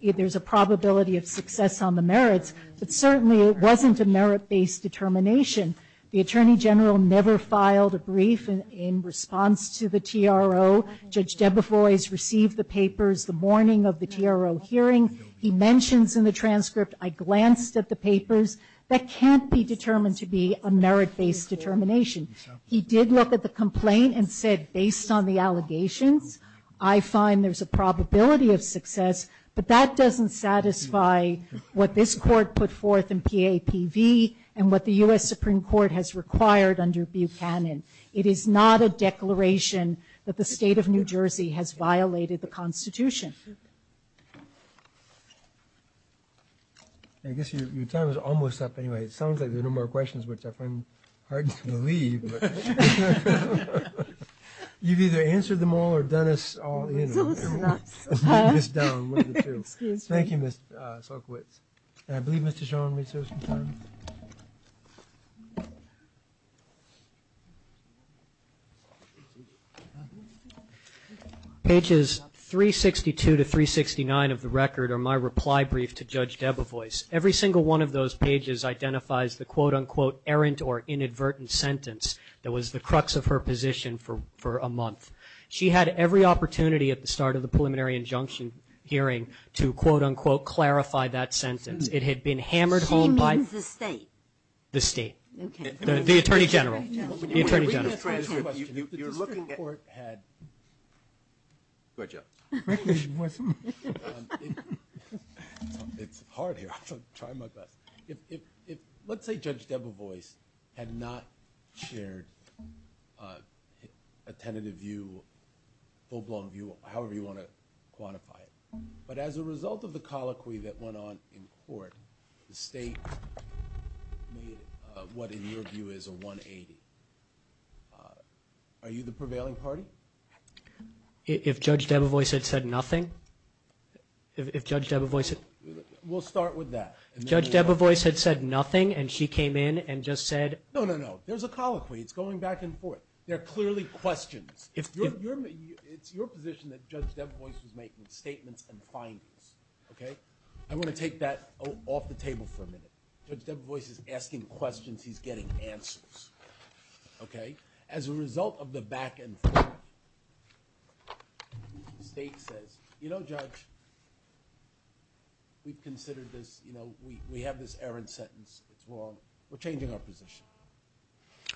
there's a probability of success on the merits, but certainly it wasn't a merit-based determination. The Attorney General never filed a brief in response to the TRO. Judge Debevoise received the papers the morning of the TRO hearing. He mentions in the transcript, I glanced at the papers, that can't be determined to be a merit-based determination. He did look at the complaint and said, based on the allegations, I find there's a probability of success, but that doesn't satisfy what this Court put forth in PAPV and what the U.S. Supreme Court has required under Buchanan. It is not a declaration that the State of New Jersey has violated the Constitution. I guess your time is almost up anyway. It sounds like there are no more questions, which I find hard to believe. You've either answered them all or done us all in. Thank you, Ms. Sulkowitz. I believe Mr. Schor on research concerns. Pages 362 to 369 of the record are my reply brief to Judge Debevoise. Every single one of those pages identifies the, quote-unquote, errant or inadvertent sentence that was the crux of her position for a month. She had every opportunity at the start of the preliminary injunction hearing to, quote-unquote, clarify that sentence. It had been hammered home by the State. The Attorney General. Let's say Judge Debevoise had not shared a tentative view, full-blown view, however you want to quantify it. But as a result of the colloquy that went on in court, the State made what, in your view, is a 180. Are you the prevailing party? If Judge Debevoise had said nothing? If Judge Debevoise had... We'll start with that. If Judge Debevoise had said nothing and she came in and just said... No, no, no. There's a colloquy. It's going back and forth. There are clearly questions. It's your position that Judge Debevoise was making statements and findings. I'm going to take that off the table for a minute. Judge Debevoise is asking questions. He's getting answers. As a result of the back and forth, the State says, you know, Judge, we've considered this. We have this errant sentence. It's wrong. We're changing our position.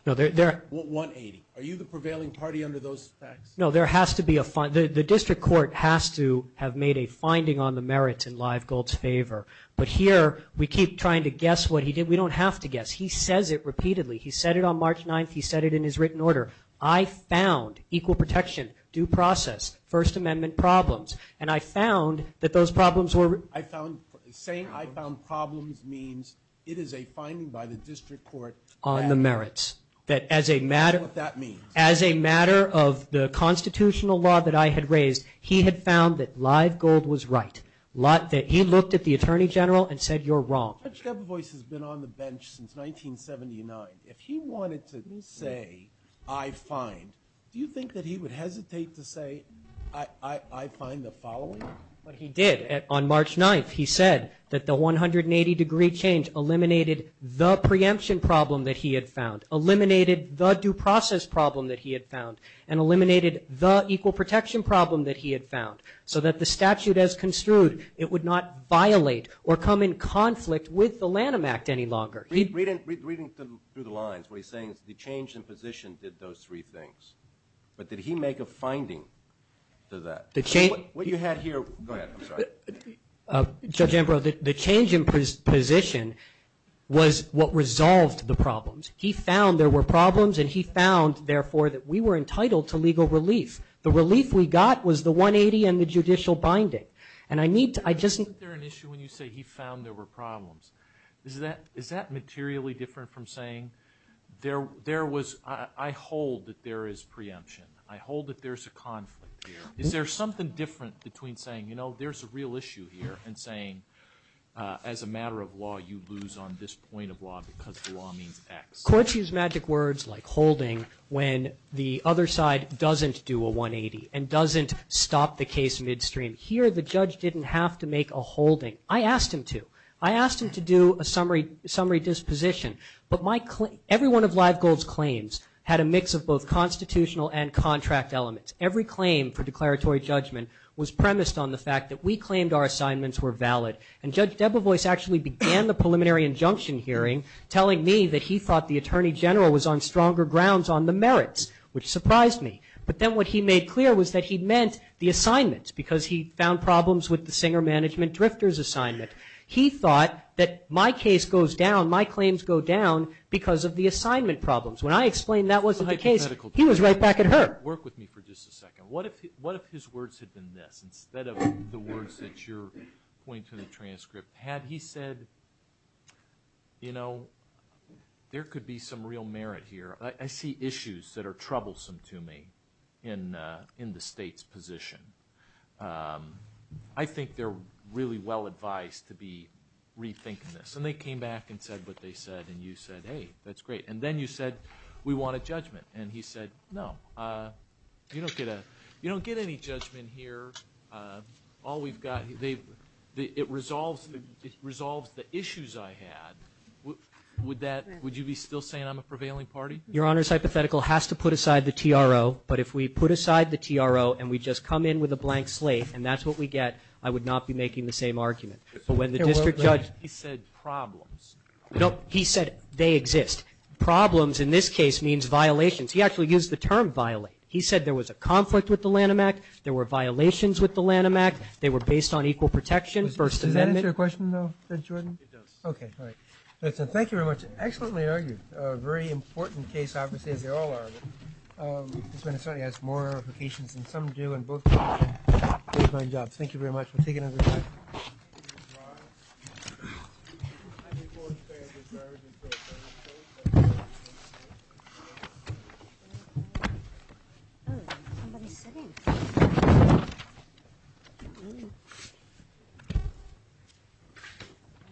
No, there... 180. Are you the prevailing party under those facts? No, there has to be a... The district court has to have made a finding on the merits in Livegold's favor. But here we keep trying to guess what he did. We don't have to guess. He says it repeatedly. He said it on March 9th. He said it in his written order. I found equal protection, due process, First Amendment problems, and I found that those problems were... I found... Saying I found problems means it is a finding by the district court. On the merits. That as a matter... You know what that means. As a matter of the constitutional law that I had raised, he had found that Livegold was right. He looked at the Attorney General and said, you're wrong. Judge Debevoise has been on the bench since 1979. If he wanted to say, I find, do you think that he would hesitate to say, I find the following? What he did on March 9th, he said that the 180-degree change eliminated the preemption problem that he had found, eliminated the due process problem that he had found, and eliminated the equal protection problem that he had found, so that the statute as construed, it would not violate or come in conflict with the Lanham Act any longer. Reading through the lines, what he's saying is the change in position did those three things. But did he make a finding to that? What you had here... I'm sorry. Judge Ambrose, the change in position was what resolved the problems. He found there were problems, and he found, therefore, that we were entitled to legal relief. The relief we got was the 180 and the judicial binding. And I need to... Isn't there an issue when you say he found there were problems? Is that materially different from saying there was... I hold that there is preemption. I hold that there's a conflict here. Is there something different between saying, you know, there's a real issue here and saying, as a matter of law, you lose on this point of law because the law means X? Courts use magic words like holding when the other side doesn't do a 180 and doesn't stop the case midstream. Here, the judge didn't have to make a holding. I asked him to. I asked him to do a summary disposition. But my claim... Every one of Livegold's claims had a mix of both constitutional and contract elements. Every claim for declaratory judgment was premised on the fact that we claimed our assignments were valid. And Judge Debevoise actually began the preliminary injunction hearing telling me that he thought the Attorney General was on stronger grounds on the merits, which surprised me. But then what he made clear was that he meant the assignments, because he found problems with the singer management drifter's assignment. He thought that my case goes down, my claims go down, because of the assignment problems. When I explained that wasn't the case, he was right back at her. Work with me for just a second. What if his words had been this instead of the words that you're pointing to in the transcript? Had he said, you know, there could be some real merit here. I see issues that are troublesome to me in the state's position. I think they're really well advised to be rethinking this. And they came back and said what they said, and you said, hey, that's great. And then you said, we want a judgment. And he said, no, you don't get any judgment here. All we've got, it resolves the issues I had. Would that, would you be still saying I'm a prevailing party? Your Honor's hypothetical has to put aside the TRO, but if we put aside the TRO and we just come in with a blank slate, and that's what we get, I would not be making the same argument. But when the district judge. He said problems. He said they exist. Problems in this case means violations. He actually used the term violate. He said there was a conflict with the Lanham Act. There were violations with the Lanham Act. They were based on equal protection. Does that answer your question, though, Judge Jordan? It does. Okay. All right. Thank you very much. Excellently argued. A very important case, obviously, as they all are. This certainly has more implications than some do in both cases. Great job. Thank you very much. We'll take another question. All right. Thank you. Thank you.